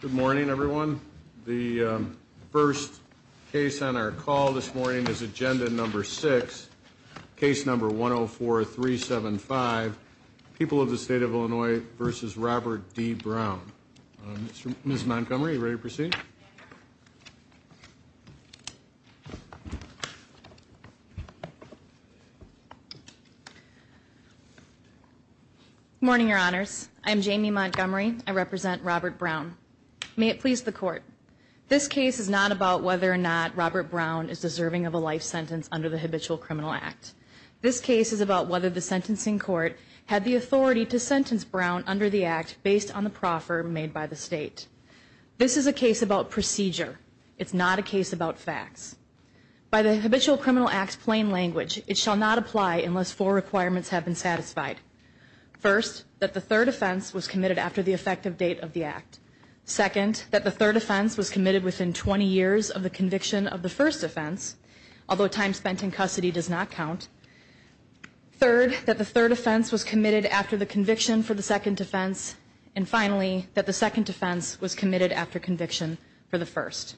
Good morning, everyone. The first case on our call this morning is Agenda Number 6, Case Number 104-375, People of the State of Illinois v. Robert D. Brown. Ms. Montgomery, are you ready to proceed? Good morning, Your Honors. I am Jamie Montgomery. I represent Robert Brown. May it please the Court. This case is not about whether or not Robert Brown is deserving of a life sentence under the Habitual Criminal Act. This case is about whether the sentencing court had the authority to sentence Brown under the Act based on the proffer made by the State. This is a case about procedure. It's not a case about facts. By the Habitual Criminal Act's plain language, it shall not apply unless four requirements have been satisfied. First, that the third offense was committed after the effective date of the Act. Second, that the third offense was committed within 20 years of the conviction of the first offense, although time spent in custody does not count. Third, that the third offense was committed after the conviction for the second offense. And finally, that the second offense was committed after conviction for the first.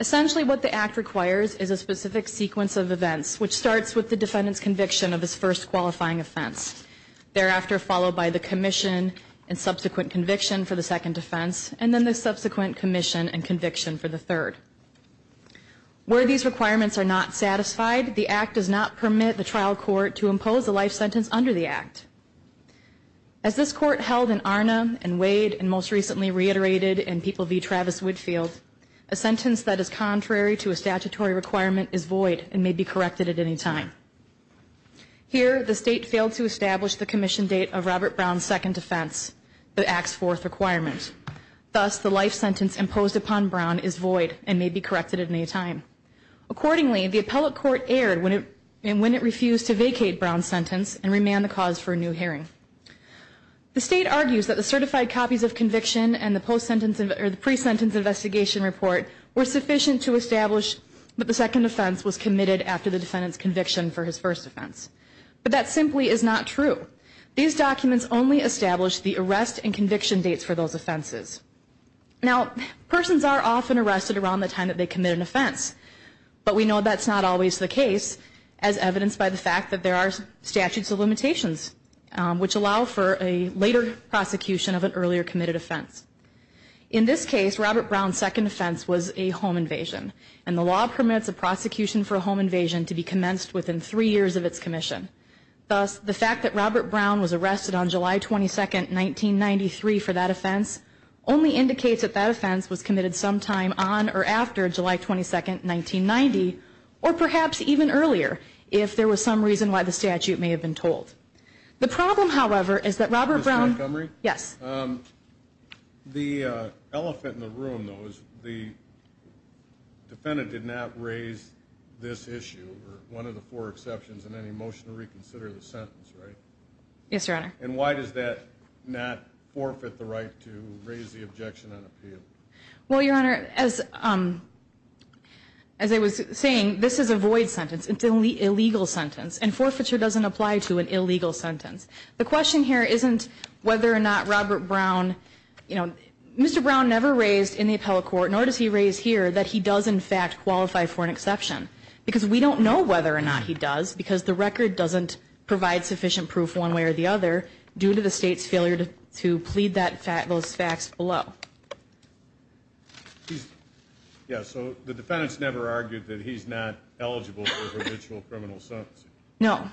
Essentially, what the Act requires is a specific sequence of events, which starts with the defendant's conviction of his first qualifying offense, thereafter followed by the commission and subsequent conviction for the second offense, and then the subsequent commission and conviction for the third. Where these requirements are not satisfied, the Act does not permit the trial court to impose a life sentence under the Act. As this Court held in Arna and Wade, and most recently reiterated in People v. Travis-Woodfield, a sentence that is contrary to a statutory requirement is void and may be corrected at any time. Here, the State failed to establish the commission date of Robert Brown's second offense, the Act's fourth requirement. Thus, the life sentence imposed upon Brown is void and may be corrected at any time. Accordingly, the appellate court erred when it refused to vacate Brown's sentence and remanded the cause for a new hearing. The State argues that the certified copies of conviction and the pre-sentence investigation report were sufficient to establish that the second offense was committed after the defendant's conviction for his first offense. But that simply is not true. These documents only establish the arrest and conviction dates for those offenses. Now, persons are often arrested around the time that they commit an offense, but we know that's not always the case, as evidenced by the fact that there are statutes of limitations, which allow for a later prosecution of an earlier committed offense. In this case, Robert Brown's second offense was a home invasion, and the law permits a prosecution for a home invasion to be commenced within three years of its commission. Thus, the fact that Robert Brown was arrested on July 22, 1993, for that offense, only indicates that that offense was committed sometime on or after July 22, 1990, or perhaps even earlier, if there was some reason why the statute may have been told. The problem, however, is that Robert Brown... Ms. Montgomery? Yes. The elephant in the room, though, is the defendant did not raise this issue, or one of the four exceptions in any motion to reconsider the sentence, right? Yes, Your Honor. And why does that not forfeit the right to raise the objection on appeal? Well, Your Honor, as I was saying, this is a void sentence. It's an illegal sentence, and forfeiture doesn't apply to an illegal sentence. The question here isn't whether or not Robert Brown, you know, Mr. Brown never raised in the appellate court, nor does he raise here, that he does, in fact, qualify for an exception. Because we don't know whether or not he does, because the record doesn't provide sufficient proof one way or the other, due to the state's failure to plead those facts below. Yeah, so the defendant's never argued that he's not eligible for a judicial criminal sentence. No.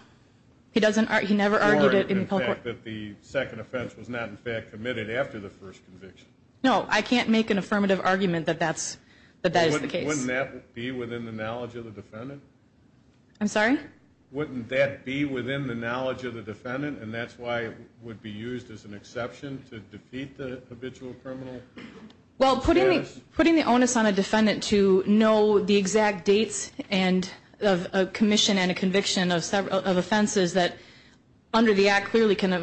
He never argued it in the appellate court. Or that the second offense was not, in fact, committed after the first conviction. No, I can't make an affirmative argument that that is the case. Wouldn't that be within the knowledge of the defendant? I'm sorry? Wouldn't that be within the knowledge of the defendant, and that's why it would be used as an exception to defeat the habitual criminal? Well, putting the onus on a defendant to know the exact dates of commission and a conviction of offenses that, under the Act, clearly can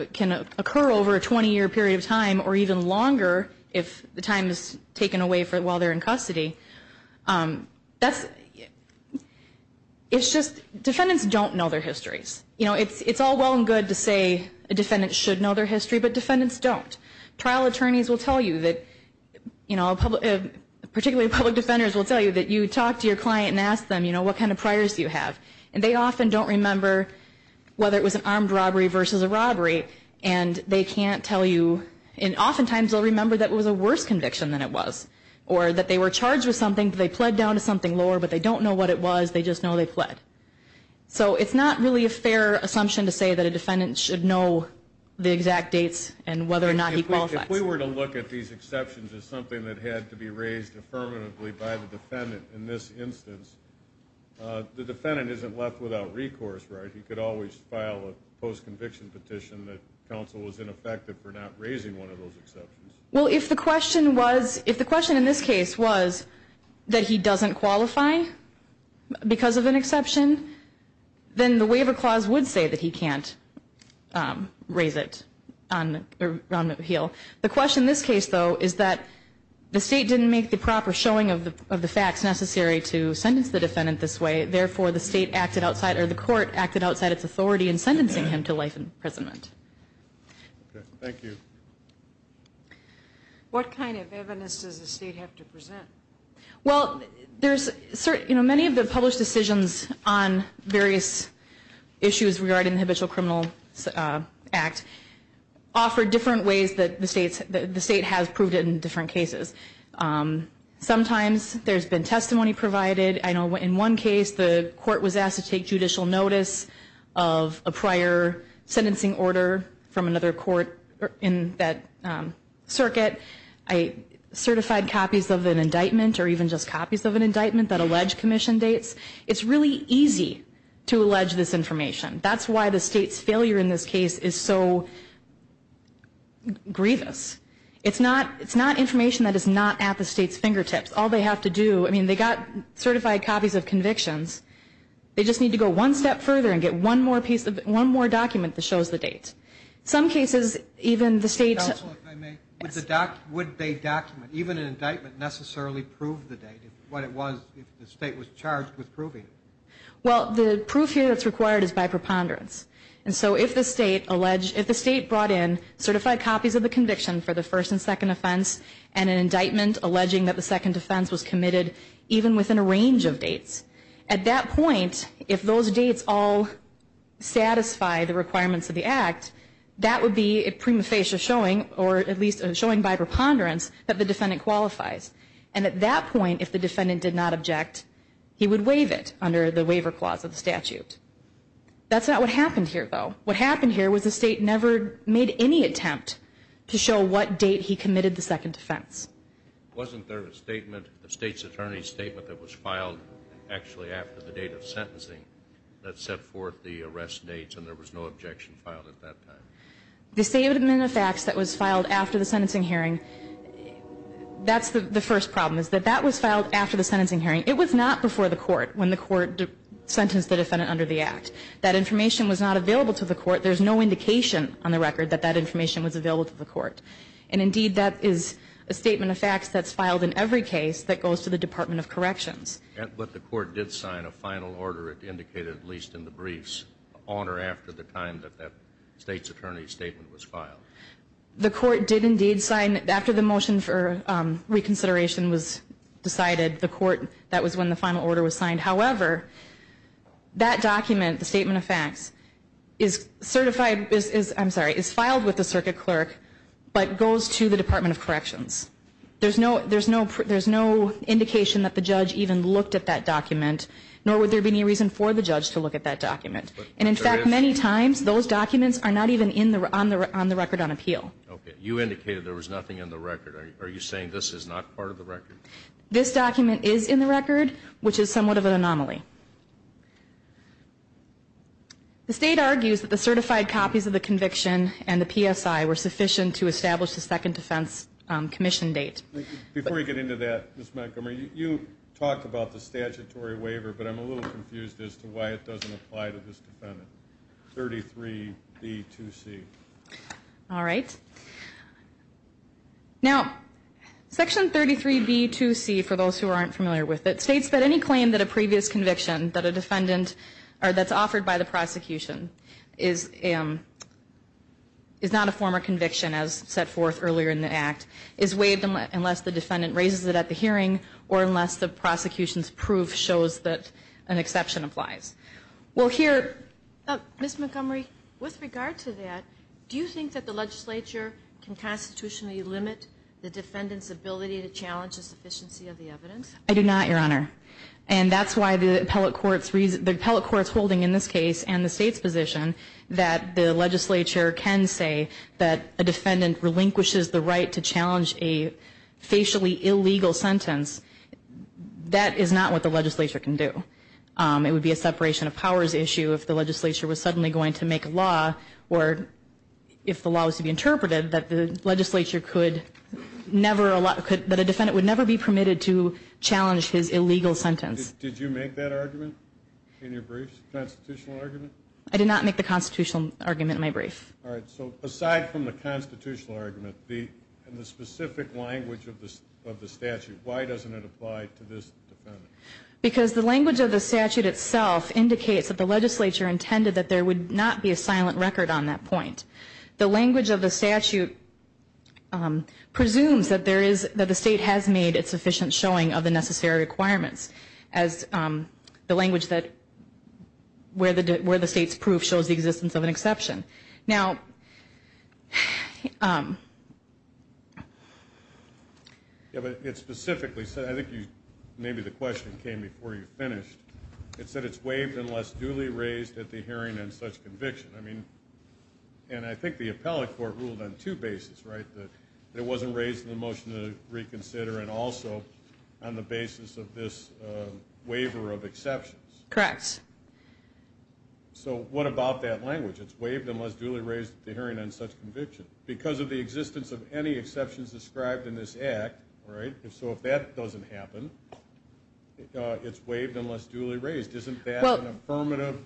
occur over a 20-year period of time, or even longer if the time is taken away while they're in custody. It's just defendants don't know their histories. You know, it's all well and good to say a defendant should know their history, but defendants don't. Trial attorneys will tell you that, particularly public defenders will tell you, that you talk to your client and ask them, you know, what kind of priors do you have. And they often don't remember whether it was an armed robbery versus a robbery, and they can't tell you. And oftentimes they'll remember that it was a worse conviction than it was, or that they were charged with something, they pled down to something lower, but they don't know what it was, they just know they pled. So it's not really a fair assumption to say that a defendant should know the exact dates and whether or not he qualifies. If we were to look at these exceptions as something that had to be raised affirmatively by the defendant in this instance, the defendant isn't left without recourse, right? He could always file a post-conviction petition that counsel was ineffective for not raising one of those exceptions. Well, if the question in this case was that he doesn't qualify because of an exception, then the waiver clause would say that he can't raise it on the heel. The question in this case, though, is that the state didn't make the proper showing of the facts necessary to sentence the defendant this way, therefore the state acted outside or the court acted outside its authority in sentencing him to life imprisonment. Okay. Thank you. What kind of evidence does the state have to present? Well, many of the published decisions on various issues regarding the Habitual Criminal Act offer different ways that the state has proved it in different cases. Sometimes there's been testimony provided. I know in one case the court was asked to take judicial notice of a prior sentencing order from another court in that circuit. I certified copies of an indictment or even just copies of an indictment that allege commission dates. It's really easy to allege this information. That's why the state's failure in this case is so grievous. It's not information that is not at the state's fingertips. All they have to do, I mean, they got certified copies of convictions. They just need to go one step further and get one more document that shows the date. In some cases, even the state's... Counsel, if I may, would they document, even an indictment, necessarily prove the date, what it was if the state was charged with proving it? Well, the proof here that's required is by preponderance. And so if the state brought in certified copies of the conviction for the first and second offense and an indictment alleging that the second offense was committed, even within a range of dates, at that point, if those dates all satisfy the requirements of the act, that would be a prima facie showing, or at least showing by preponderance, that the defendant qualifies. And at that point, if the defendant did not object, he would waive it under the waiver clause of the statute. That's not what happened here, though. What happened here was the state never made any attempt to show what date he committed the second offense. Wasn't there a statement, the state's attorney's statement, that was filed actually after the date of sentencing that set forth the arrest dates and there was no objection filed at that time? The statement of facts that was filed after the sentencing hearing, that's the first problem is that that was filed after the sentencing hearing. It was not before the court when the court sentenced the defendant under the act. That information was not available to the court. There's no indication on the record that that information was available to the court. And, indeed, that is a statement of facts that's filed in every case that goes to the Department of Corrections. But the court did sign a final order, it indicated at least in the briefs, on or after the time that that state's attorney's statement was filed. The court did, indeed, sign after the motion for reconsideration was decided. The court, that was when the final order was signed. However, that document, the statement of facts, is certified, I'm sorry, is filed with the circuit clerk but goes to the Department of Corrections. There's no indication that the judge even looked at that document, nor would there be any reason for the judge to look at that document. And, in fact, many times those documents are not even on the record on appeal. Okay. You indicated there was nothing on the record. Are you saying this is not part of the record? This document is in the record, which is somewhat of an anomaly. The state argues that the certified copies of the conviction and the PSI were sufficient to establish the second defense commission date. Before we get into that, Ms. Montgomery, you talked about the statutory waiver, but I'm a little confused as to why it doesn't apply to this defendant. 33B2C. All right. Now, Section 33B2C, for those who aren't familiar with it, states that any claim that a previous conviction that a defendant, or that's offered by the prosecution, is not a former conviction, as set forth earlier in the Act, is waived unless the defendant raises it at the hearing or unless the prosecution's proof shows that an exception applies. Well, here Ms. Montgomery, with regard to that, do you think that the legislature can constitutionally limit the defendant's ability to challenge the sufficiency of the evidence? I do not, Your Honor. And that's why the appellate court's holding in this case and the state's position that the legislature can say that a defendant relinquishes the right to challenge a facially illegal sentence. That is not what the legislature can do. It would be a separation of powers issue if the legislature was suddenly going to make a law or if the law was to be interpreted that the legislature could never allow, that a defendant would never be permitted to challenge his illegal sentence. Did you make that argument in your briefs, the constitutional argument? I did not make the constitutional argument in my brief. All right. So aside from the constitutional argument and the specific language of the statute, why doesn't it apply to this defendant? Because the language of the statute itself indicates that the legislature intended that there would not be a silent record on that point. The language of the statute presumes that there is, that the state has made its sufficient showing of the necessary requirements as the language that where the state's proof shows the existence of an exception. Now, it specifically said, I think maybe the question came before you finished, it said it's waived unless duly raised at the hearing on such conviction. I mean, and I think the appellate court ruled on two bases, right, that it wasn't raised in the motion to reconsider and also on the basis of this waiver of exceptions. Correct. So what about that language? It's waived unless duly raised at the hearing on such conviction. Because of the existence of any exceptions described in this act, right, so if that doesn't happen, it's waived unless duly raised. Isn't that an affirmative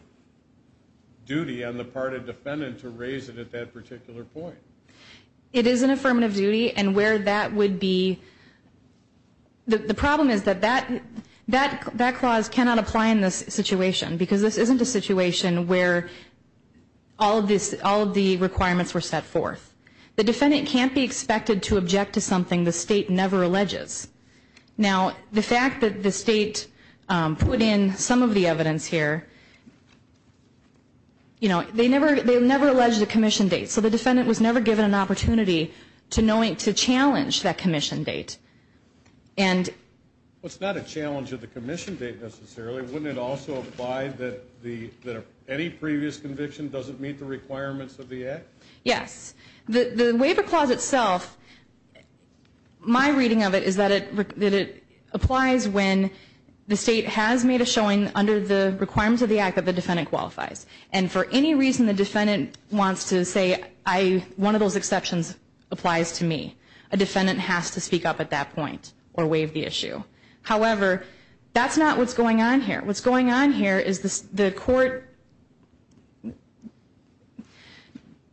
duty on the part of the defendant to raise it at that particular point? It is an affirmative duty and where that would be, the problem is that that clause cannot apply in this situation because this isn't a situation where all of the requirements were set forth. The defendant can't be expected to object to something the state never alleges. Now, the fact that the state put in some of the evidence here, you know, they never allege the commission date, so the defendant was never given an opportunity to challenge that commission date. Well, it's not a challenge of the commission date necessarily. Wouldn't it also apply that any previous conviction doesn't meet the requirements of the act? Yes. The waiver clause itself, my reading of it is that it applies when the state has made a showing under the requirements of the act that the defendant qualifies. And for any reason the defendant wants to say one of those exceptions applies to me, a defendant has to speak up at that point or waive the issue. However, that's not what's going on here. What's going on here is the court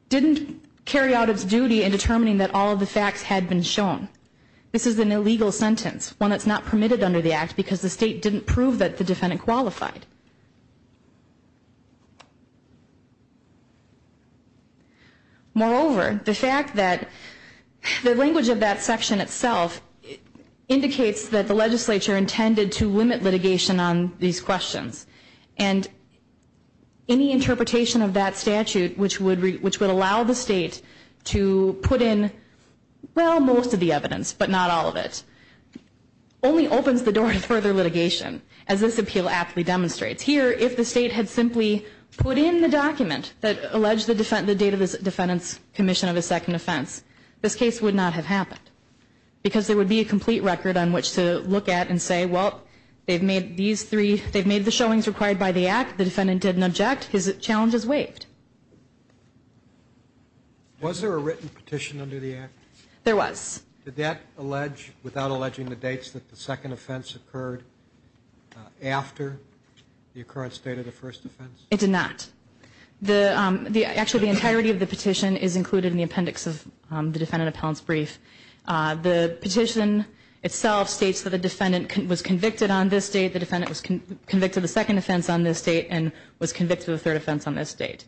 didn't carry out its duty in determining that all of the facts had been shown. This is an illegal sentence, one that's not permitted under the act because the state didn't prove that the defendant qualified. Moreover, the fact that the language of that section itself indicates that the legislature intended to limit litigation on these questions. And any interpretation of that statute which would allow the state to put in, well, most of the evidence but not all of it, only opens the door to further litigation as this appeal aptly demonstrates. Here, if the state had simply put in the document that alleged the date of the defendant's commission of a second offense, this case would not have happened. Because there would be a complete record on which to look at and say, well, they've made the showings required by the act, the defendant didn't object, his challenge is waived. Was there a written petition under the act? There was. Did that allege, without alleging the dates, that the second offense occurred after the occurrence date of the first offense? It did not. Actually, the entirety of the petition is included in the appendix of the defendant appellant's brief. The petition itself states that the defendant was convicted on this date, the defendant was convicted of the second offense on this date, and was convicted of the third offense on this date.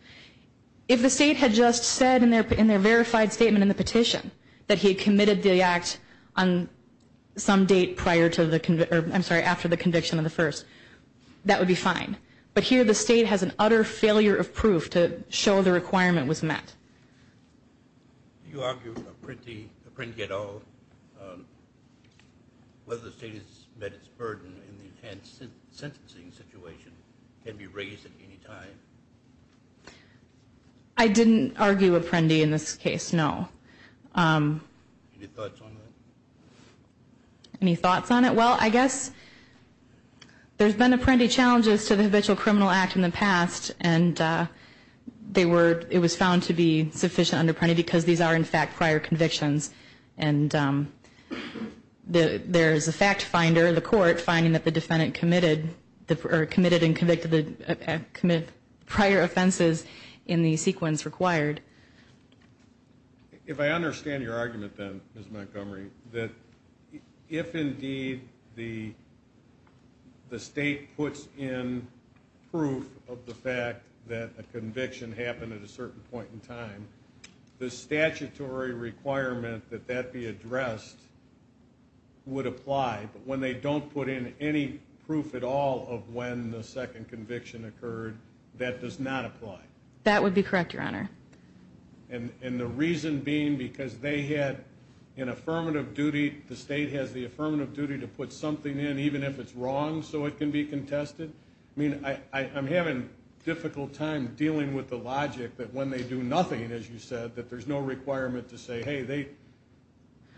If the state had just said in their verified statement in the petition that he had committed the act on some date prior to the, I'm sorry, after the conviction of the first, that would be fine. But here the state has an utter failure of proof to show the requirement was met. Do you argue Apprendi at all whether the state has met its burden in the intense sentencing situation? Can it be raised at any time? I didn't argue Apprendi in this case, no. Any thoughts on that? Any thoughts on it? Well, I guess there's been Apprendi challenges to the habitual criminal act in the past, and it was found to be sufficient under Apprendi because these are, in fact, prior convictions. And there is a fact finder in the court finding that the defendant committed and convicted prior offenses in the sequence required. If I understand your argument then, Ms. Montgomery, that if indeed the state puts in proof of the fact that a conviction happened at a certain point in time, the statutory requirement that that be addressed would apply. But when they don't put in any proof at all of when the second conviction occurred, that does not apply. That would be correct, Your Honor. And the reason being because they had an affirmative duty, the state has the affirmative duty to put something in even if it's wrong so it can be contested? I mean, I'm having a difficult time dealing with the logic that when they do nothing, as you said, that there's no requirement to say, hey,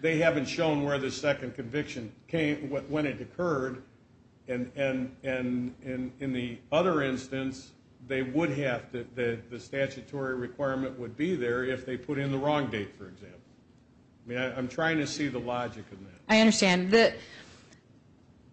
they haven't shown where the second conviction came when it occurred. And in the other instance, the statutory requirement would be there if they put in the wrong date, for example. I mean, I'm trying to see the logic in that. I understand.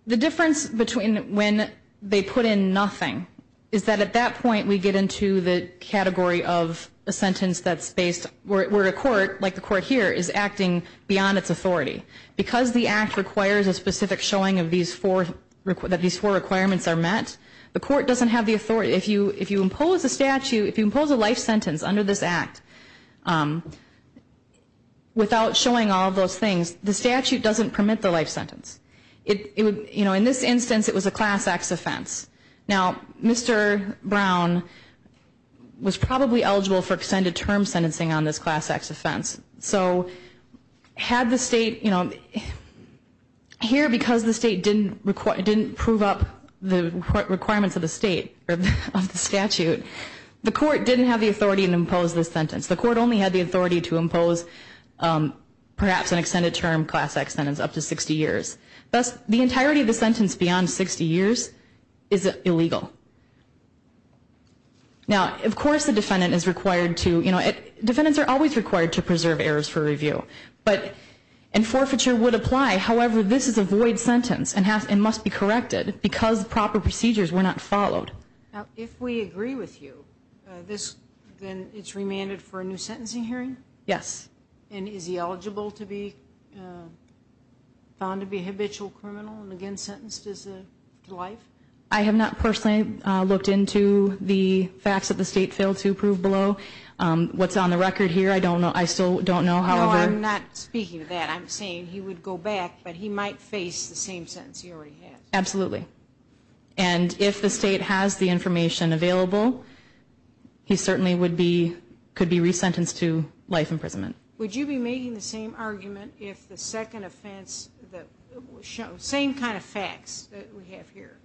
The difference between when they put in nothing is that at that point we get into the category of a sentence that's based where a court, like the court here, is acting beyond its authority. Because the act requires a specific showing that these four requirements are met, the court doesn't have the authority. If you impose a life sentence under this act without showing all of those things, the statute doesn't permit the life sentence. In this instance, it was a class acts offense. Now, Mr. Brown was probably eligible for extended term sentencing on this class acts offense. So had the state, you know, here because the state didn't prove up the requirements of the state, of the statute, the court didn't have the authority to impose this sentence. The court only had the authority to impose perhaps an extended term class acts sentence up to 60 years. Thus, the entirety of the sentence beyond 60 years is illegal. Now, of course the defendant is required to, you know, defendants are always required to preserve errors for review. But, and forfeiture would apply. However, this is a void sentence and must be corrected because proper procedures were not followed. Now, if we agree with you, then it's remanded for a new sentencing hearing? Yes. And is he eligible to be found to be a habitual criminal and again sentenced to life? I have not personally looked into the facts that the state failed to prove below. What's on the record here, I don't know. I still don't know. No, I'm not speaking of that. I'm saying he would go back, but he might face the same sentence he already has. Absolutely. And if the state has the information available, he certainly would be, could be resentenced to life imprisonment. Would you be making the same argument if the second offense, the same kind of facts that we have here,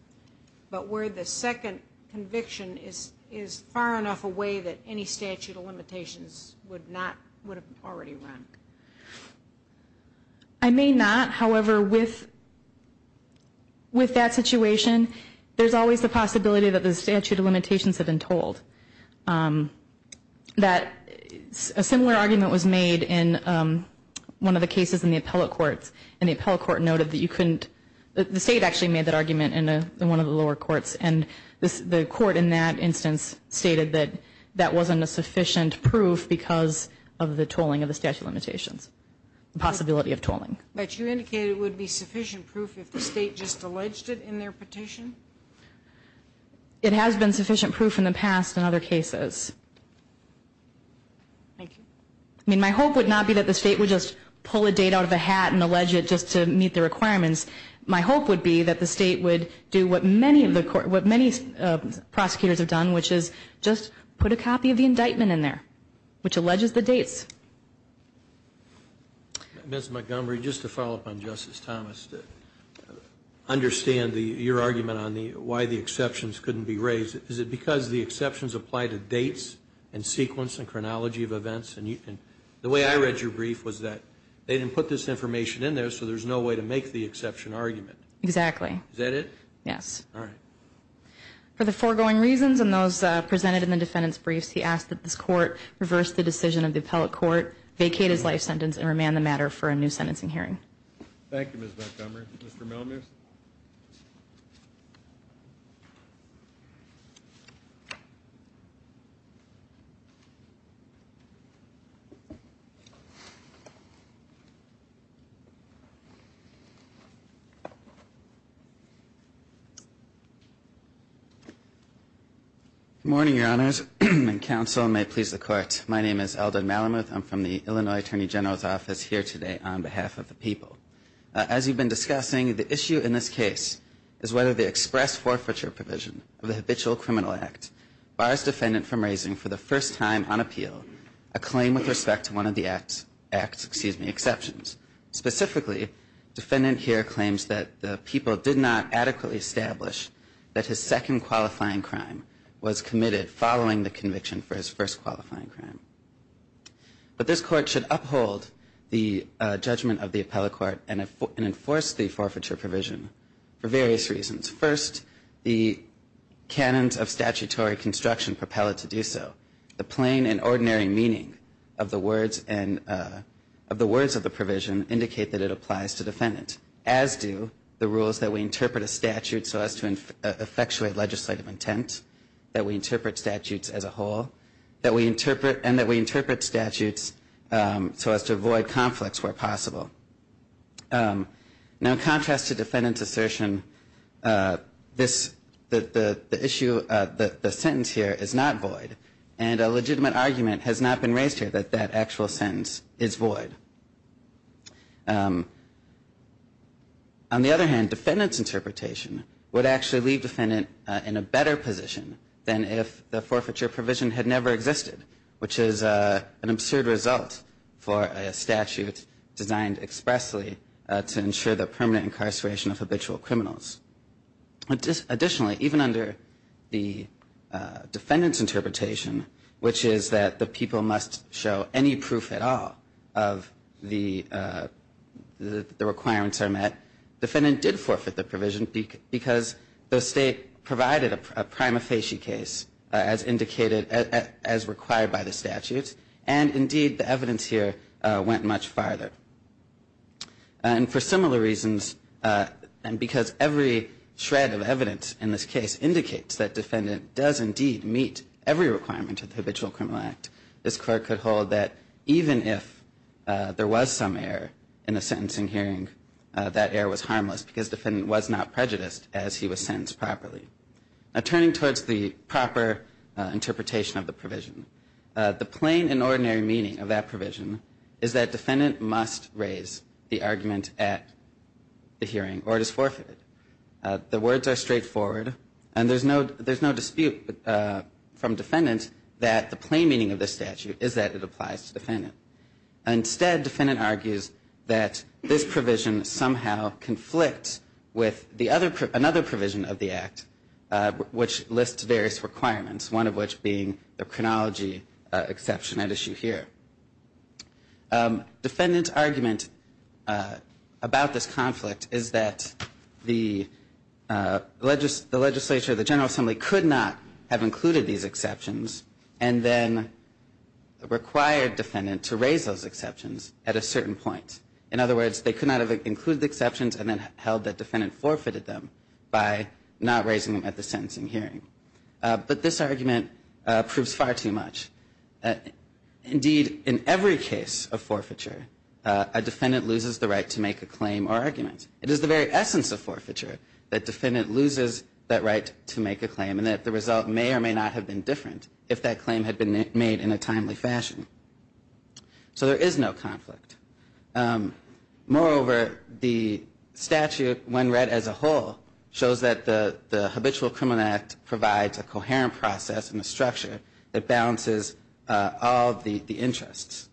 but where the second conviction is far enough away that any statute of limitations would not, would have already run? I may not. However, with that situation, there's always the possibility that the statute of limitations had been told. That a similar argument was made in one of the cases in the appellate courts, and the appellate court noted that you couldn't, the state actually made that argument in one of the lower courts, and the court in that instance stated that that wasn't a sufficient proof because of the tolling of the statute of limitations, the possibility of tolling. But you indicated it would be sufficient proof if the state just alleged it in their petition? It has been sufficient proof in the past in other cases. Thank you. I mean, my hope would not be that the state would just pull a date out of a hat and allege it just to meet the requirements. My hope would be that the state would do what many prosecutors have done, which is just put a copy of the indictment in there, which alleges the dates. Ms. Montgomery, just to follow up on Justice Thomas, understand your argument on why the exceptions couldn't be raised. Is it because the exceptions apply to dates and sequence and chronology of events? And the way I read your brief was that they didn't put this information in there, so there's no way to make the exception argument. Exactly. Is that it? Yes. All right. For the foregoing reasons and those presented in the defendant's briefs, I ask that this Court reverse the decision of the appellate court, vacate his life sentence, and remand the matter for a new sentencing hearing. Thank you, Ms. Montgomery. Mr. Melamus? Good morning, Your Honors. Counsel may please the Court. My name is Eldon Melamus. I'm from the Illinois Attorney General's Office here today on behalf of the people. As you've been discussing, the issue in this case is whether the express forfeiture provision of the Habitual Criminal Act bars defendant from raising for the first time on appeal a claim with respect to one of the act's exceptions. Specifically, defendant here claims that the people did not adequately establish that his second qualifying crime was committed following the conviction for his first qualifying crime. But this Court should uphold the judgment of the appellate court and enforce the forfeiture provision for various reasons. First, the canons of statutory construction propel it to do so. The plain and ordinary meaning of the words of the provision indicate that it applies to defendant, as do the rules that we interpret a statute so as to effectuate legislative intent, that we interpret statutes as a whole, and that we interpret statutes so as to avoid conflicts where possible. Now, in contrast to defendant's assertion, the sentence here is not void, and a legitimate argument has not been raised here that that actual sentence is void. On the other hand, defendant's interpretation would actually leave defendant in a better position than if the forfeiture provision had never existed, which is an absurd result for a statute designed expressly to ensure the permanent incarceration of habitual criminals. Additionally, even under the defendant's interpretation, which is that the people must show any proof at all of the requirements are met, defendant did forfeit the provision because the state provided a prima facie case as required by the statute, and indeed the evidence here went much farther. And for similar reasons, and because every shred of evidence in this case indicates that defendant does indeed meet every requirement of the Habitual Criminal Act, this Court could hold that even if there was some error in the sentencing hearing, that error was harmless because defendant was not prejudiced as he was sentenced properly. Now, turning towards the proper interpretation of the provision, the plain and ordinary meaning of that provision is that defendant must raise the argument at the hearing, or it is forfeited. The words are straightforward, and there's no dispute from defendant that the plain meaning of this statute is that it applies to defendant. Instead, defendant argues that this provision somehow conflicts with another provision of the Act, which lists various requirements, one of which being the chronology exception at issue here. Defendant's argument about this conflict is that the legislature, the General Assembly could not have included these exceptions and then required defendant to raise those exceptions at a certain point. In other words, they could not have included the exceptions and then held that defendant forfeited them by not raising them at the sentencing hearing. But this argument proves far too much. Indeed, in every case of forfeiture, a defendant loses the right to make a claim or argument. It is the very essence of forfeiture that defendant loses that right to make a claim and that the result may or may not have been different if that claim had been made in a timely fashion. So there is no conflict. Moreover, the statute, when read as a whole, shows that the Habitual Criminal Act provides a coherent process and a structure that balances all the interests.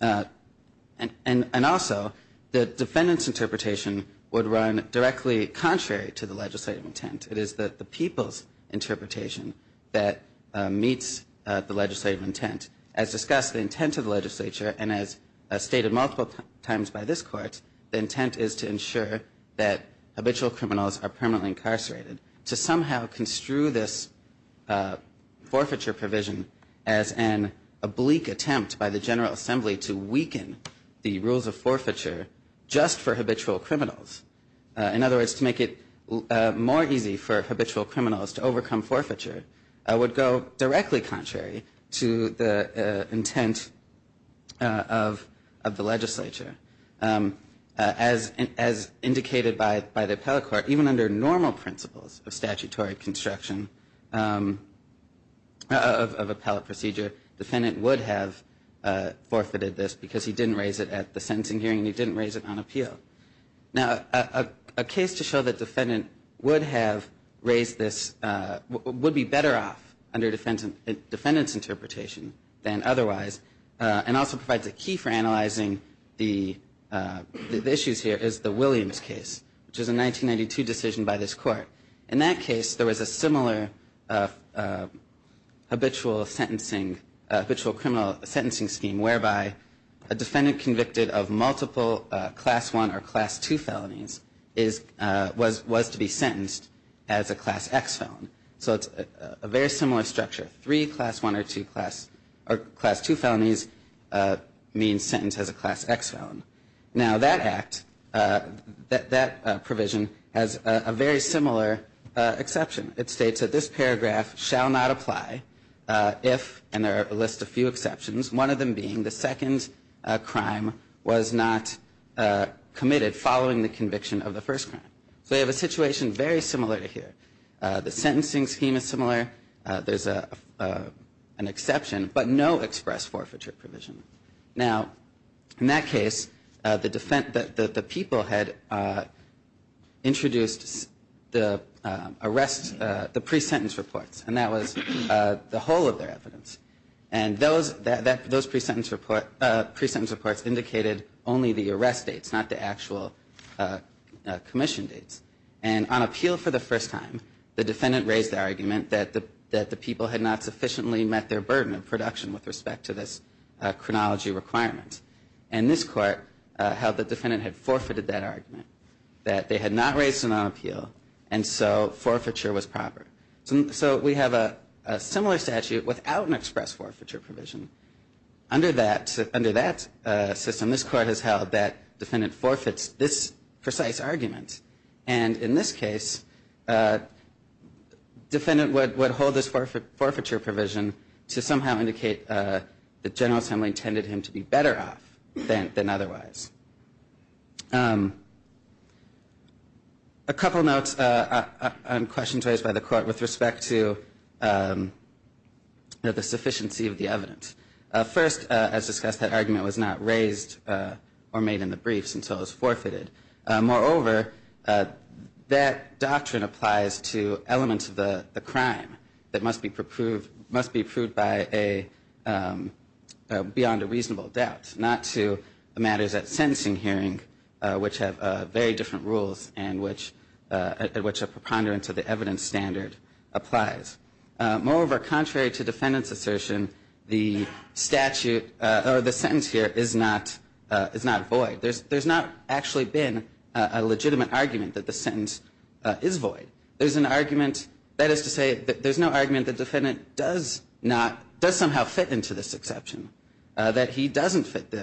And also, the defendant's interpretation would run directly contrary to the legislative intent. It is the people's interpretation that meets the legislative intent. As discussed, the intent of the legislature, and as stated multiple times by this Court, the intent is to ensure that habitual criminals are permanently incarcerated. To somehow construe this forfeiture provision as an oblique attempt by the General Assembly to weaken the rules of forfeiture just for habitual criminals, in other words, to make it more easy for habitual criminals to overcome forfeiture, would go directly contrary to the intent of the legislature. As indicated by the appellate court, even under normal principles of statutory construction of appellate procedure, defendant would have forfeited this because he didn't raise it at the sentencing hearing and he didn't raise it on appeal. Now, a case to show that defendant would have raised this, would be better off under defendant's interpretation than otherwise, and also provides a key for analyzing the issues here is the Williams case, which is a 1992 decision by this Court. In that case, there was a similar habitual criminal sentencing scheme whereby a defendant convicted of multiple Class I or Class II felonies was to be sentenced as a Class X felon. So it's a very similar structure. Three Class I or Class II felonies means sentenced as a Class X felon. Now, that provision has a very similar exception. It states that this paragraph shall not apply if, and there are a list of few exceptions, one of them being the second crime was not committed following the conviction of the first crime. So you have a situation very similar to here. The sentencing scheme is similar. There's an exception, but no express forfeiture provision. Now, in that case, the people had introduced the pre-sentence reports, and that was the whole of their evidence. And those pre-sentence reports indicated only the arrest dates, not the actual commission dates. And on appeal for the first time, the defendant raised the argument that the people had not sufficiently met their burden of production with respect to this chronology requirement. And this Court held the defendant had forfeited that argument, that they had not raised it on appeal, and so forfeiture was proper. So we have a similar statute without an express forfeiture provision. Under that system, this Court has held that defendant forfeits this precise argument. And in this case, defendant would hold this forfeiture provision to somehow indicate that General Assembly intended him to be better off than otherwise. A couple notes on questions raised by the Court with respect to the sufficiency of the evidence. First, as discussed, that argument was not raised or made in the briefs until it was forfeited. Moreover, that doctrine applies to elements of the crime that must be proved by a beyond a reasonable doubt, not to matters at sentencing hearing, which have very different rules and which a preponderance of the evidence standard applies. Moreover, contrary to defendant's assertion, the statute or the sentence here is not void. There's not actually been a legitimate argument that the sentence is void. There's an argument, that is to say, there's no argument the defendant does somehow fit into this exception, that he doesn't fit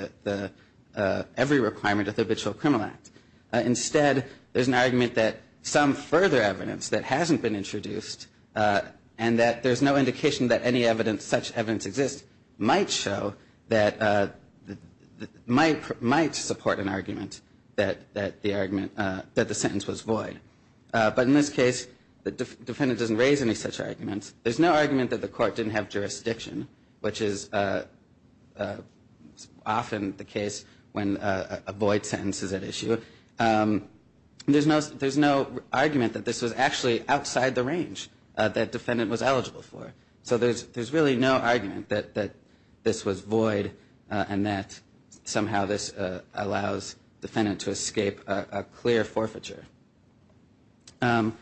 every requirement of the Habitual Criminal Act. Instead, there's an argument that some further evidence that hasn't been introduced and that there's no indication that any evidence, such evidence exists, might show that, might support an argument that the argument, that the sentence was void. But in this case, the defendant doesn't raise any such arguments. There's no argument that the court didn't have jurisdiction, which is often the case when a void sentence is at issue. There's no argument that this was actually outside the range that defendant was eligible for. So there's really no argument that this was void and that somehow this allows defendant to escape a clear forfeiture. Now,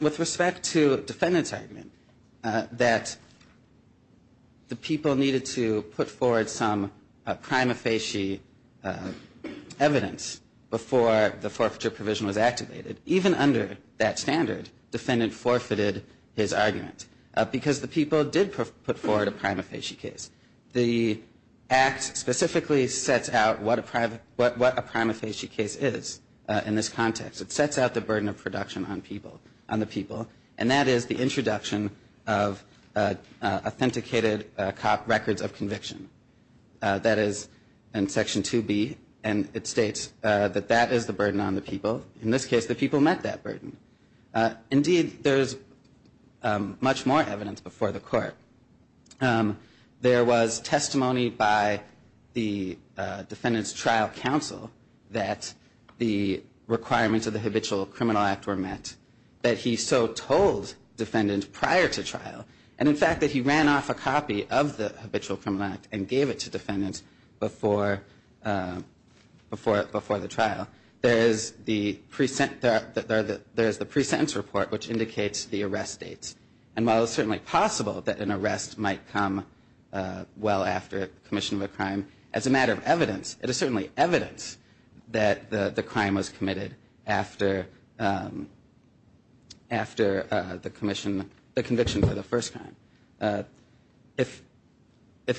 with respect to defendant's argument, that the people needed to put forward some prima facie evidence before the forfeiture provision was activated, even under that standard, defendant forfeited his argument because the people did put forward a prima facie case. The act specifically sets out what a prima facie case is in this context. It sets out the burden of production on people, on the people, and that is the introduction of authenticated cop records of conviction. That is in Section 2B, and it states that that is the burden on the people. In this case, the people met that burden. Indeed, there's much more evidence before the court. There was testimony by the defendant's trial counsel that the requirements of the Habitual Criminal Act were met, that he so told defendants prior to trial, and in fact that he ran off a copy of the Habitual Criminal Act and gave it to defendants before the trial. There is the pre-sentence report, which indicates the arrest dates. And while it's certainly possible that an arrest might come well after commission of a crime, as a matter of evidence, it is certainly evidence that the crime was committed after the conviction for the first time. If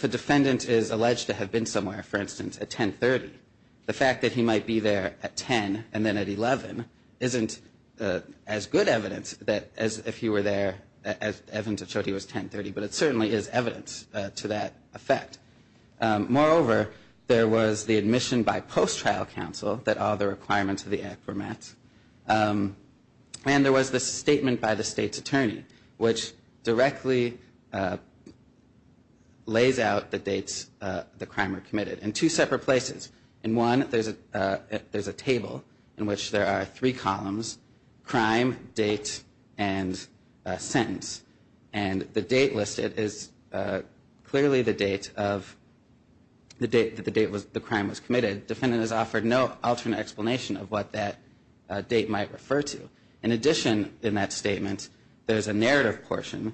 a defendant is alleged to have been somewhere, for instance, at 1030, the fact that he might be there at 10 and then at 11 isn't as good evidence as if he were there at 1030, but it certainly is evidence to that effect. Moreover, there was the admission by post-trial counsel that all the requirements of the act were met, and there was the statement by the state's attorney, which directly lays out the dates the crime was committed. And two separate places. In one, there's a table in which there are three columns, crime, date, and sentence. And the date listed is clearly the date that the crime was committed. Defendant is offered no alternate explanation of what that date might refer to. In addition, in that statement, there's a narrative portion.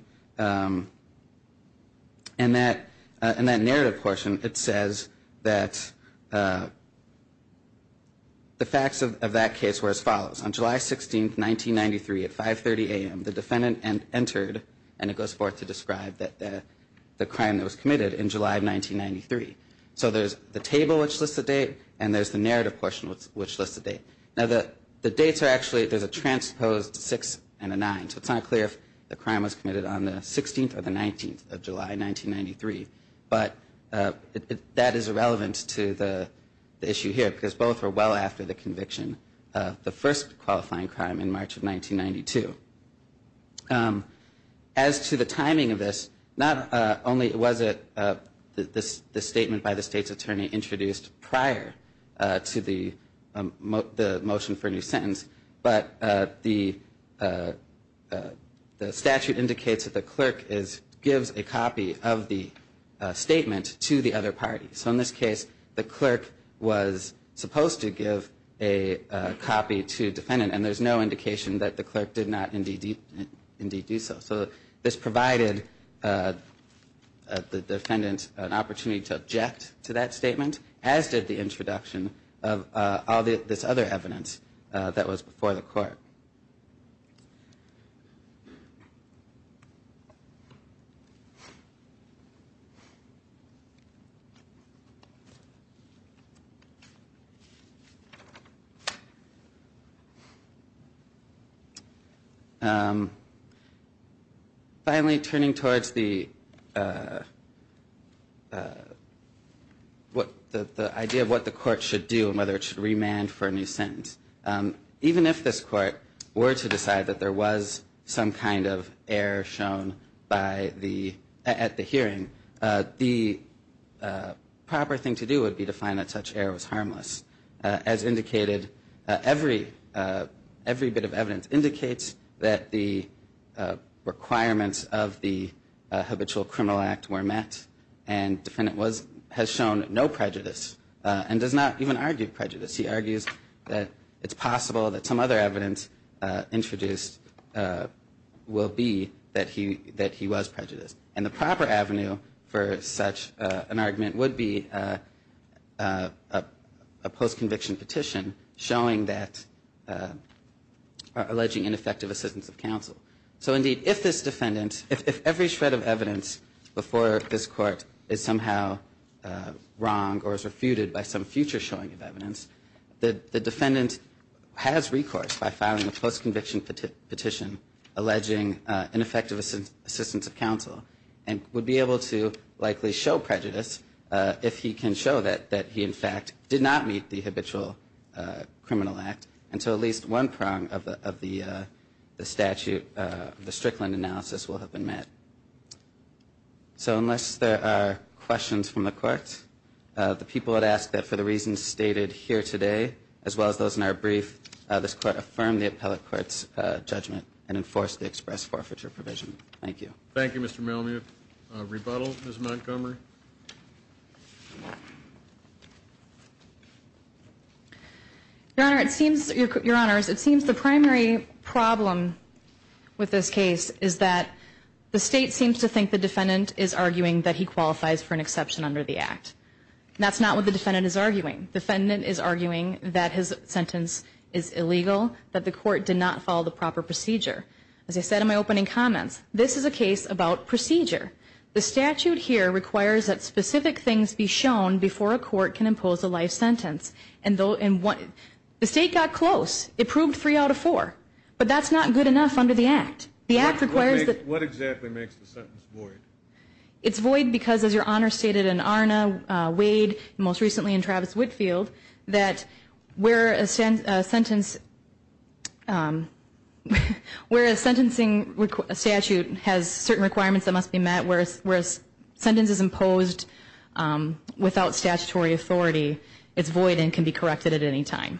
And that narrative portion, it says that the facts of that case were as follows. On July 16, 1993, at 5.30 a.m., the defendant entered, and it goes forth to describe, the crime that was committed in July of 1993. So there's the table which lists the date, and there's the narrative portion which lists the date. Now, the dates are actually, there's a transposed six and a nine, so it's not clear if the crime was committed on the 16th or the 19th of July, 1993. But that is irrelevant to the issue here, because both were well after the conviction of the first qualifying crime in March of 1992. As to the timing of this, not only was it the statement by the state's attorney introduced prior to the motion for a new sentence, but the statute indicates that the clerk gives a copy of the statement to the other party. So in this case, the clerk was supposed to give a copy to defendant, and there's no indication that the clerk did not indeed do so. So this provided the defendant an opportunity to object to that statement, as did the introduction of all this other evidence that was before the court. Finally, turning towards the idea of what the court should do and whether it should remand for a new sentence, even if this court were to decide that there was some kind of error shown at the hearing, the proper thing to do would be to find that such error was harmless, as indicated, every bit of evidence indicates that the requirements of the habitual criminal act were met, and defendant has shown no prejudice and does not even argue prejudice. He argues that it's possible that some other evidence introduced will be that he was prejudiced. And the proper avenue for such an argument would be a post-conviction petition, showing that, alleging ineffective assistance of counsel. So indeed, if this defendant, if every shred of evidence before this court is somehow wrong or is refuted by some future showing of evidence, the defendant has recourse by filing a post-conviction petition, alleging ineffective assistance of counsel, and would be able to likely show prejudice, if he can show that he in fact did not meet the habitual criminal act, until at least one prong of the statute, the Strickland analysis, will have been met. So unless there are questions from the court, the people had asked that for the reasons stated here today, as well as those in our brief, this court affirm the appellate court's judgment and enforce the express forfeiture provision. Thank you. Thank you, Mr. Malamud. Rebuttal, Ms. Montgomery. Your Honor, it seems the primary problem with this case is that the state seems to think the defendant is arguing that he qualifies for an exception under the act. That's not what the defendant is arguing. The defendant is arguing that his sentence is illegal, that the court did not follow the proper procedure. As I said in my opening comments, this is a case about procedure. The statute here requires that specific things be shown before a court can impose a life sentence. The state got close. It proved three out of four. But that's not good enough under the act. What exactly makes the sentence void? It's void because, as Your Honor stated in Arna, Wade, and most recently in Travis-Whitfield, that where a sentencing statute has certain requirements that must be met, whereas a sentence is imposed without statutory authority, it's void and can be corrected at any time.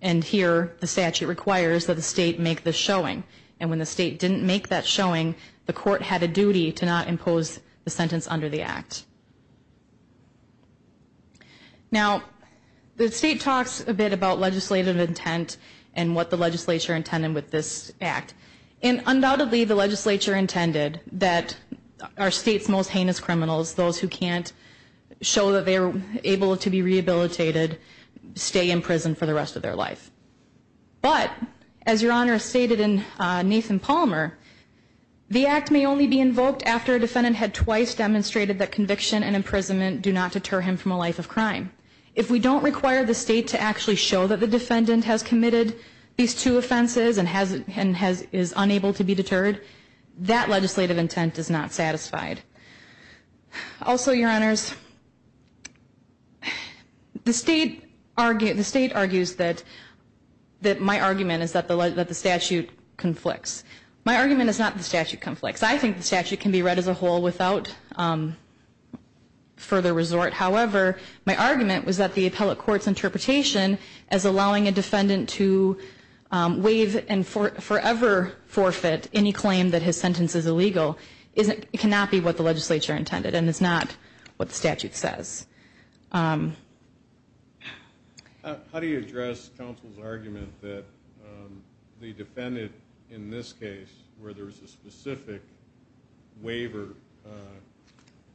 And here the statute requires that the state make the showing. And when the state didn't make that showing, the court had a duty to not impose the sentence under the act. Now, the state talks a bit about legislative intent and what the legislature intended with this act. And undoubtedly the legislature intended that our state's most heinous criminals, those who can't show that they're able to be rehabilitated, stay in prison for the rest of their life. But, as Your Honor stated in Nathan Palmer, the act may only be invoked after a defendant had twice demonstrated that conviction and imprisonment do not deter him from a life of crime. If we don't require the state to actually show that the defendant has committed these two offenses and is unable to be deterred, that legislative intent is not satisfied. Also, Your Honors, the state argues that my argument is that the statute conflicts. My argument is not that the statute conflicts. I think the statute can be read as a whole without further resort. However, my argument was that the appellate court's interpretation as allowing a defendant to waive and forever forfeit any claim that his sentence is illegal cannot be what the legislature intended and is not what the statute says. How do you address counsel's argument that the defendant in this case, where there is a specific waiver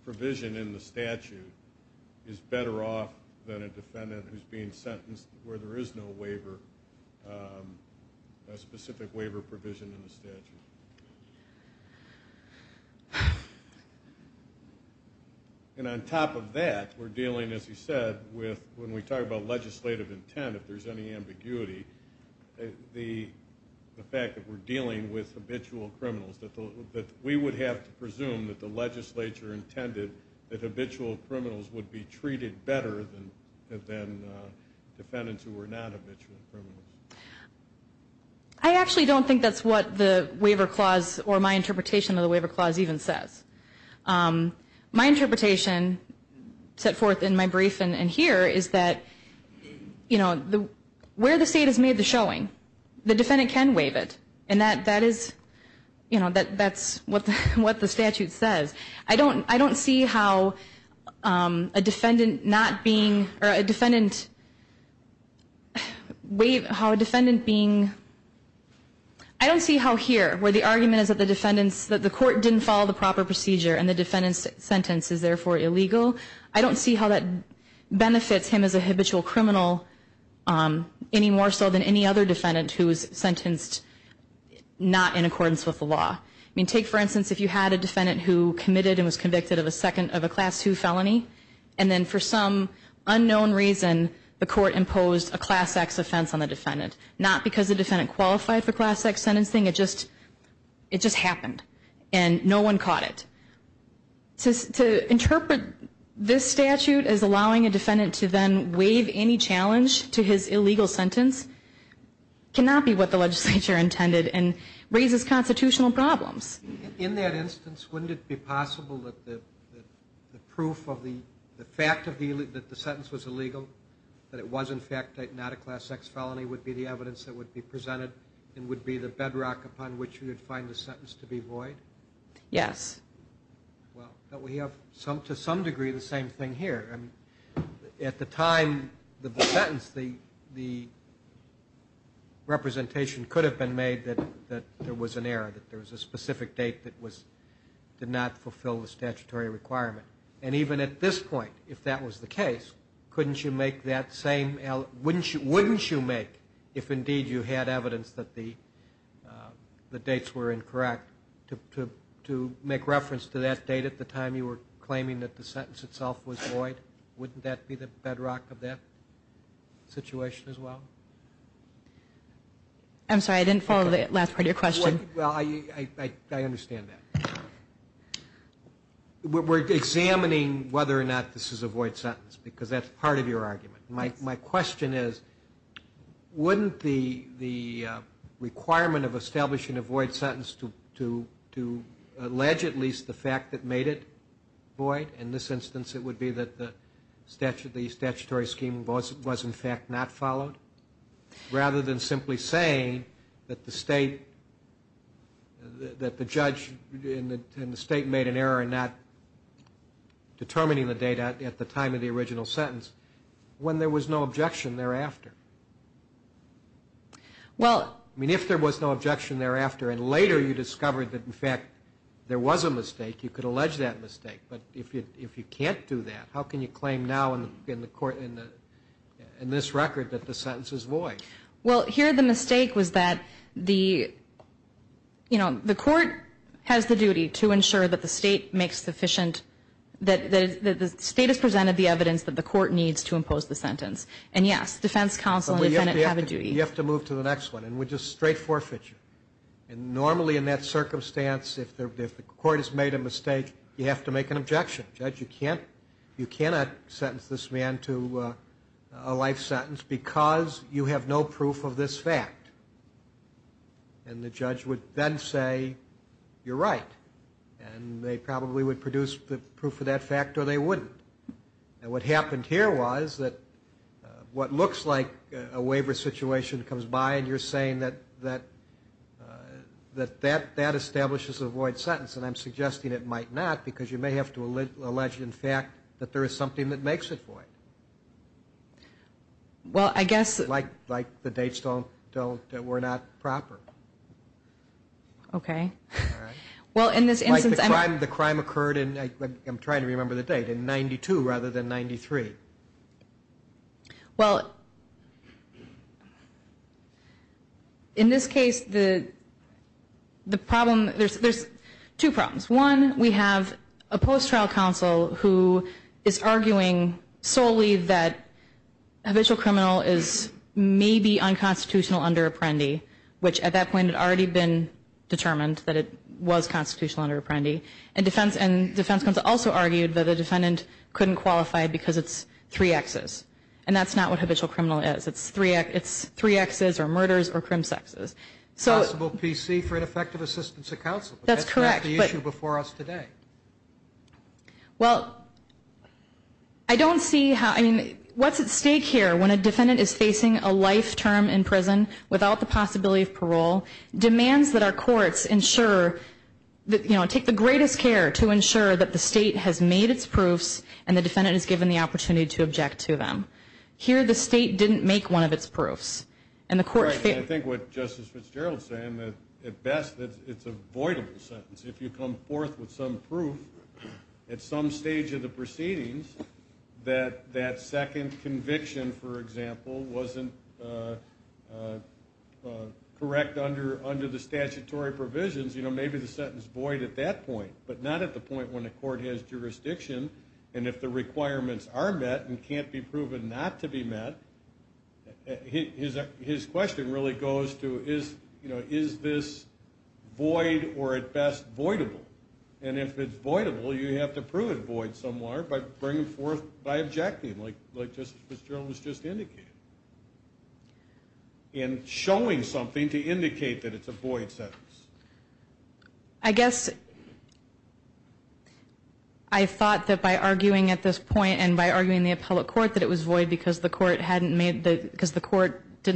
provision in the statute, is better off than a defendant who's being sentenced where there is no waiver, a specific waiver provision in the statute? And on top of that, we're dealing, as you said, with when we talk about legislative intent, if there's any ambiguity, the fact that we're dealing with habitual criminals, that we would have to presume that the legislature intended that habitual criminals would be treated better than defendants who were not habitual criminals. I actually don't think that's what the waiver clause, or my interpretation of the waiver clause even says. My interpretation set forth in my brief and here is that, you know, where the state has made the showing, the defendant can waive it. And that is, you know, that's what the statute says. I don't see how a defendant not being, or a defendant, how a defendant being, I don't see how here, where the argument is that the defendants, that the court didn't follow the proper procedure and the defendant's sentence is therefore illegal, I don't see how that benefits him as a habitual criminal any more so than any other defendant who is sentenced not in accordance with the law. I mean, take, for instance, if you had a defendant who committed and was convicted of a second, of a Class II felony, and then for some unknown reason the court imposed a Class X offense on the defendant, not because the defendant qualified for Class X sentencing, it just happened. And no one caught it. To interpret this statute as allowing a defendant to then waive any challenge to his illegal sentence cannot be what the legislature intended and raises constitutional problems. In that instance, wouldn't it be possible that the proof of the fact that the sentence was illegal, that it was in fact not a Class X felony, would be the evidence that would be presented and would be the bedrock upon which you would find the sentence to be void? Yes. Well, but we have to some degree the same thing here. I mean, at the time of the sentence, the representation could have been made that there was an error, that there was a specific date that did not fulfill the statutory requirement. And even at this point, if that was the case, couldn't you make that same, wouldn't you make if indeed you had evidence that the dates were incorrect to make reference to that date at the time you were claiming that the sentence itself was void? Wouldn't that be the bedrock of that situation as well? I'm sorry, I didn't follow the last part of your question. Well, I understand that. We're examining whether or not this is a void sentence because that's part of your argument. My question is, wouldn't the requirement of establishing a void sentence to allege at least the fact that made it void, in this instance it would be that the statutory scheme was in fact not followed, rather than simply saying that the state, that the judge in the state made an error in not determining the date at the time of the original sentence when there was no objection thereafter? Well, I mean, if there was no objection thereafter, and later you discovered that in fact there was a mistake, you could allege that mistake. But if you can't do that, how can you claim now in this record that the sentence is void? Well, here the mistake was that the, you know, the court has the duty to ensure that the state makes sufficient, that the state has presented the evidence that the court needs to impose the sentence. And yes, defense counsel and the defendant have a duty. You have to move to the next one, and we just straight forfeit you. And normally in that circumstance, if the court has made a mistake, you have to make an objection. Judge, you can't, you cannot sentence this man to a life sentence because you have no proof of this fact. And the judge would then say, you're right. And they probably would produce the proof of that fact or they wouldn't. And what happened here was that what looks like a waiver situation comes by and you're saying that that establishes a void sentence, and I'm suggesting it might not because you may have to allege in fact that there is something that makes it void. Well, I guess. Like the dates don't, were not proper. Okay. Well, in this instance. Like the crime occurred in, I'm trying to remember the date, in 92 rather than 93. Well, in this case, the problem, there's two problems. One, we have a post-trial counsel who is arguing solely that a habitual criminal is maybe unconstitutional under Apprendi, which at that point had already been determined that it was constitutional under Apprendi. And defense counsel also argued that the defendant couldn't qualify because it's three X's. And that's not what habitual criminal is. It's three X's or murders or crim sexes. Possible PC for ineffective assistance of counsel. That's correct. But that's not the issue before us today. Well, I don't see how, I mean, what's at stake here when a defendant is facing a life term in prison without the possibility of parole, demands that our courts ensure, you know, take the greatest care to ensure that the state has made its proofs and the defendant is given the opportunity to object to them. Here the state didn't make one of its proofs. And the court failed. I think what Justice Fitzgerald is saying, at best, it's a voidable sentence. If you come forth with some proof at some stage of the proceedings that that second conviction, for example, wasn't correct under the statutory provisions, you know, maybe the sentence is void at that point, but not at the point when the court has jurisdiction. And if the requirements are met and can't be proven not to be met, his question really goes to, you know, is this void or, at best, voidable? And if it's voidable, you have to prove it void somewhere by bringing forth, by objecting, like Justice Fitzgerald was just indicating. And showing something to indicate that it's a void sentence. I guess I thought that by arguing at this point and by arguing in the appellate court that it was void because the court didn't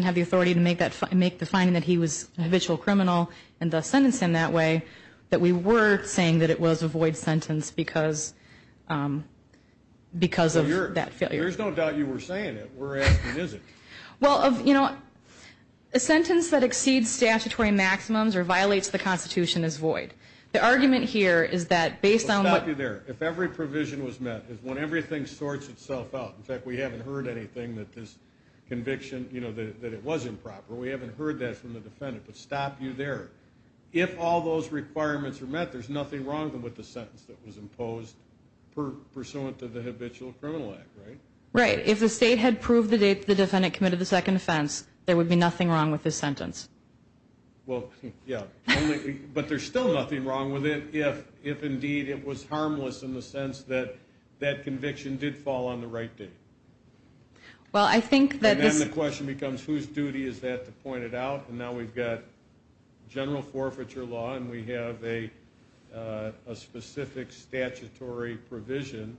have the authority to make the finding that he was a habitual criminal and thus sentenced him that way, that we were saying that it was a void sentence because of that failure. There's no doubt you were saying it. We're asking, is it? Well, you know, a sentence that exceeds statutory maximums or violates the Constitution is void. The argument here is that based on what... Stop you there. If every provision was met, when everything sorts itself out, in fact, we haven't heard anything that this conviction, you know, that it was improper, we haven't heard that from the defendant, but stop you there. If all those requirements are met, there's nothing wrong with the sentence that was imposed pursuant to the Habitual Criminal Act, right? Right. But if the state had proved the defendant committed the second offense, there would be nothing wrong with this sentence. Well, yeah, but there's still nothing wrong with it if indeed it was harmless in the sense that that conviction did fall on the right day. Well, I think that this... And then the question becomes whose duty is that to point it out, and now we've got general forfeiture law and we have a specific statutory provision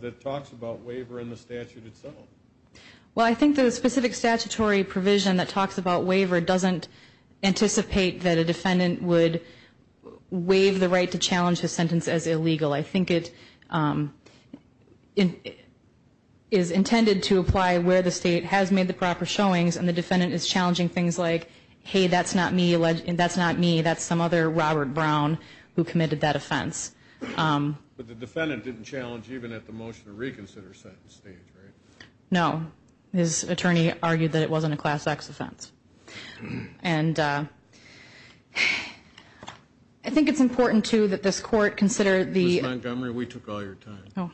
that talks about waiver in the statute itself. Well, I think the specific statutory provision that talks about waiver doesn't anticipate that a defendant would waive the right to challenge a sentence as illegal. I think it is intended to apply where the state has made the proper showings and the defendant is challenging things like, hey, that's not me, that's some other Robert Brown who committed that offense. But the defendant didn't challenge even at the motion to reconsider sentence stage, right? No. His attorney argued that it wasn't a Class X offense. And I think it's important, too, that this court consider the... Ms. Montgomery, we took all your time.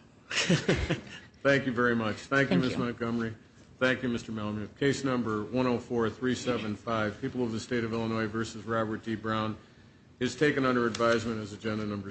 Thank you very much. Thank you, Ms. Montgomery. Thank you, Mr. Melamed. Case Number 104-375, People of the State of Illinois v. Robert D. Brown, is taken under advisement as Agenda Number 6.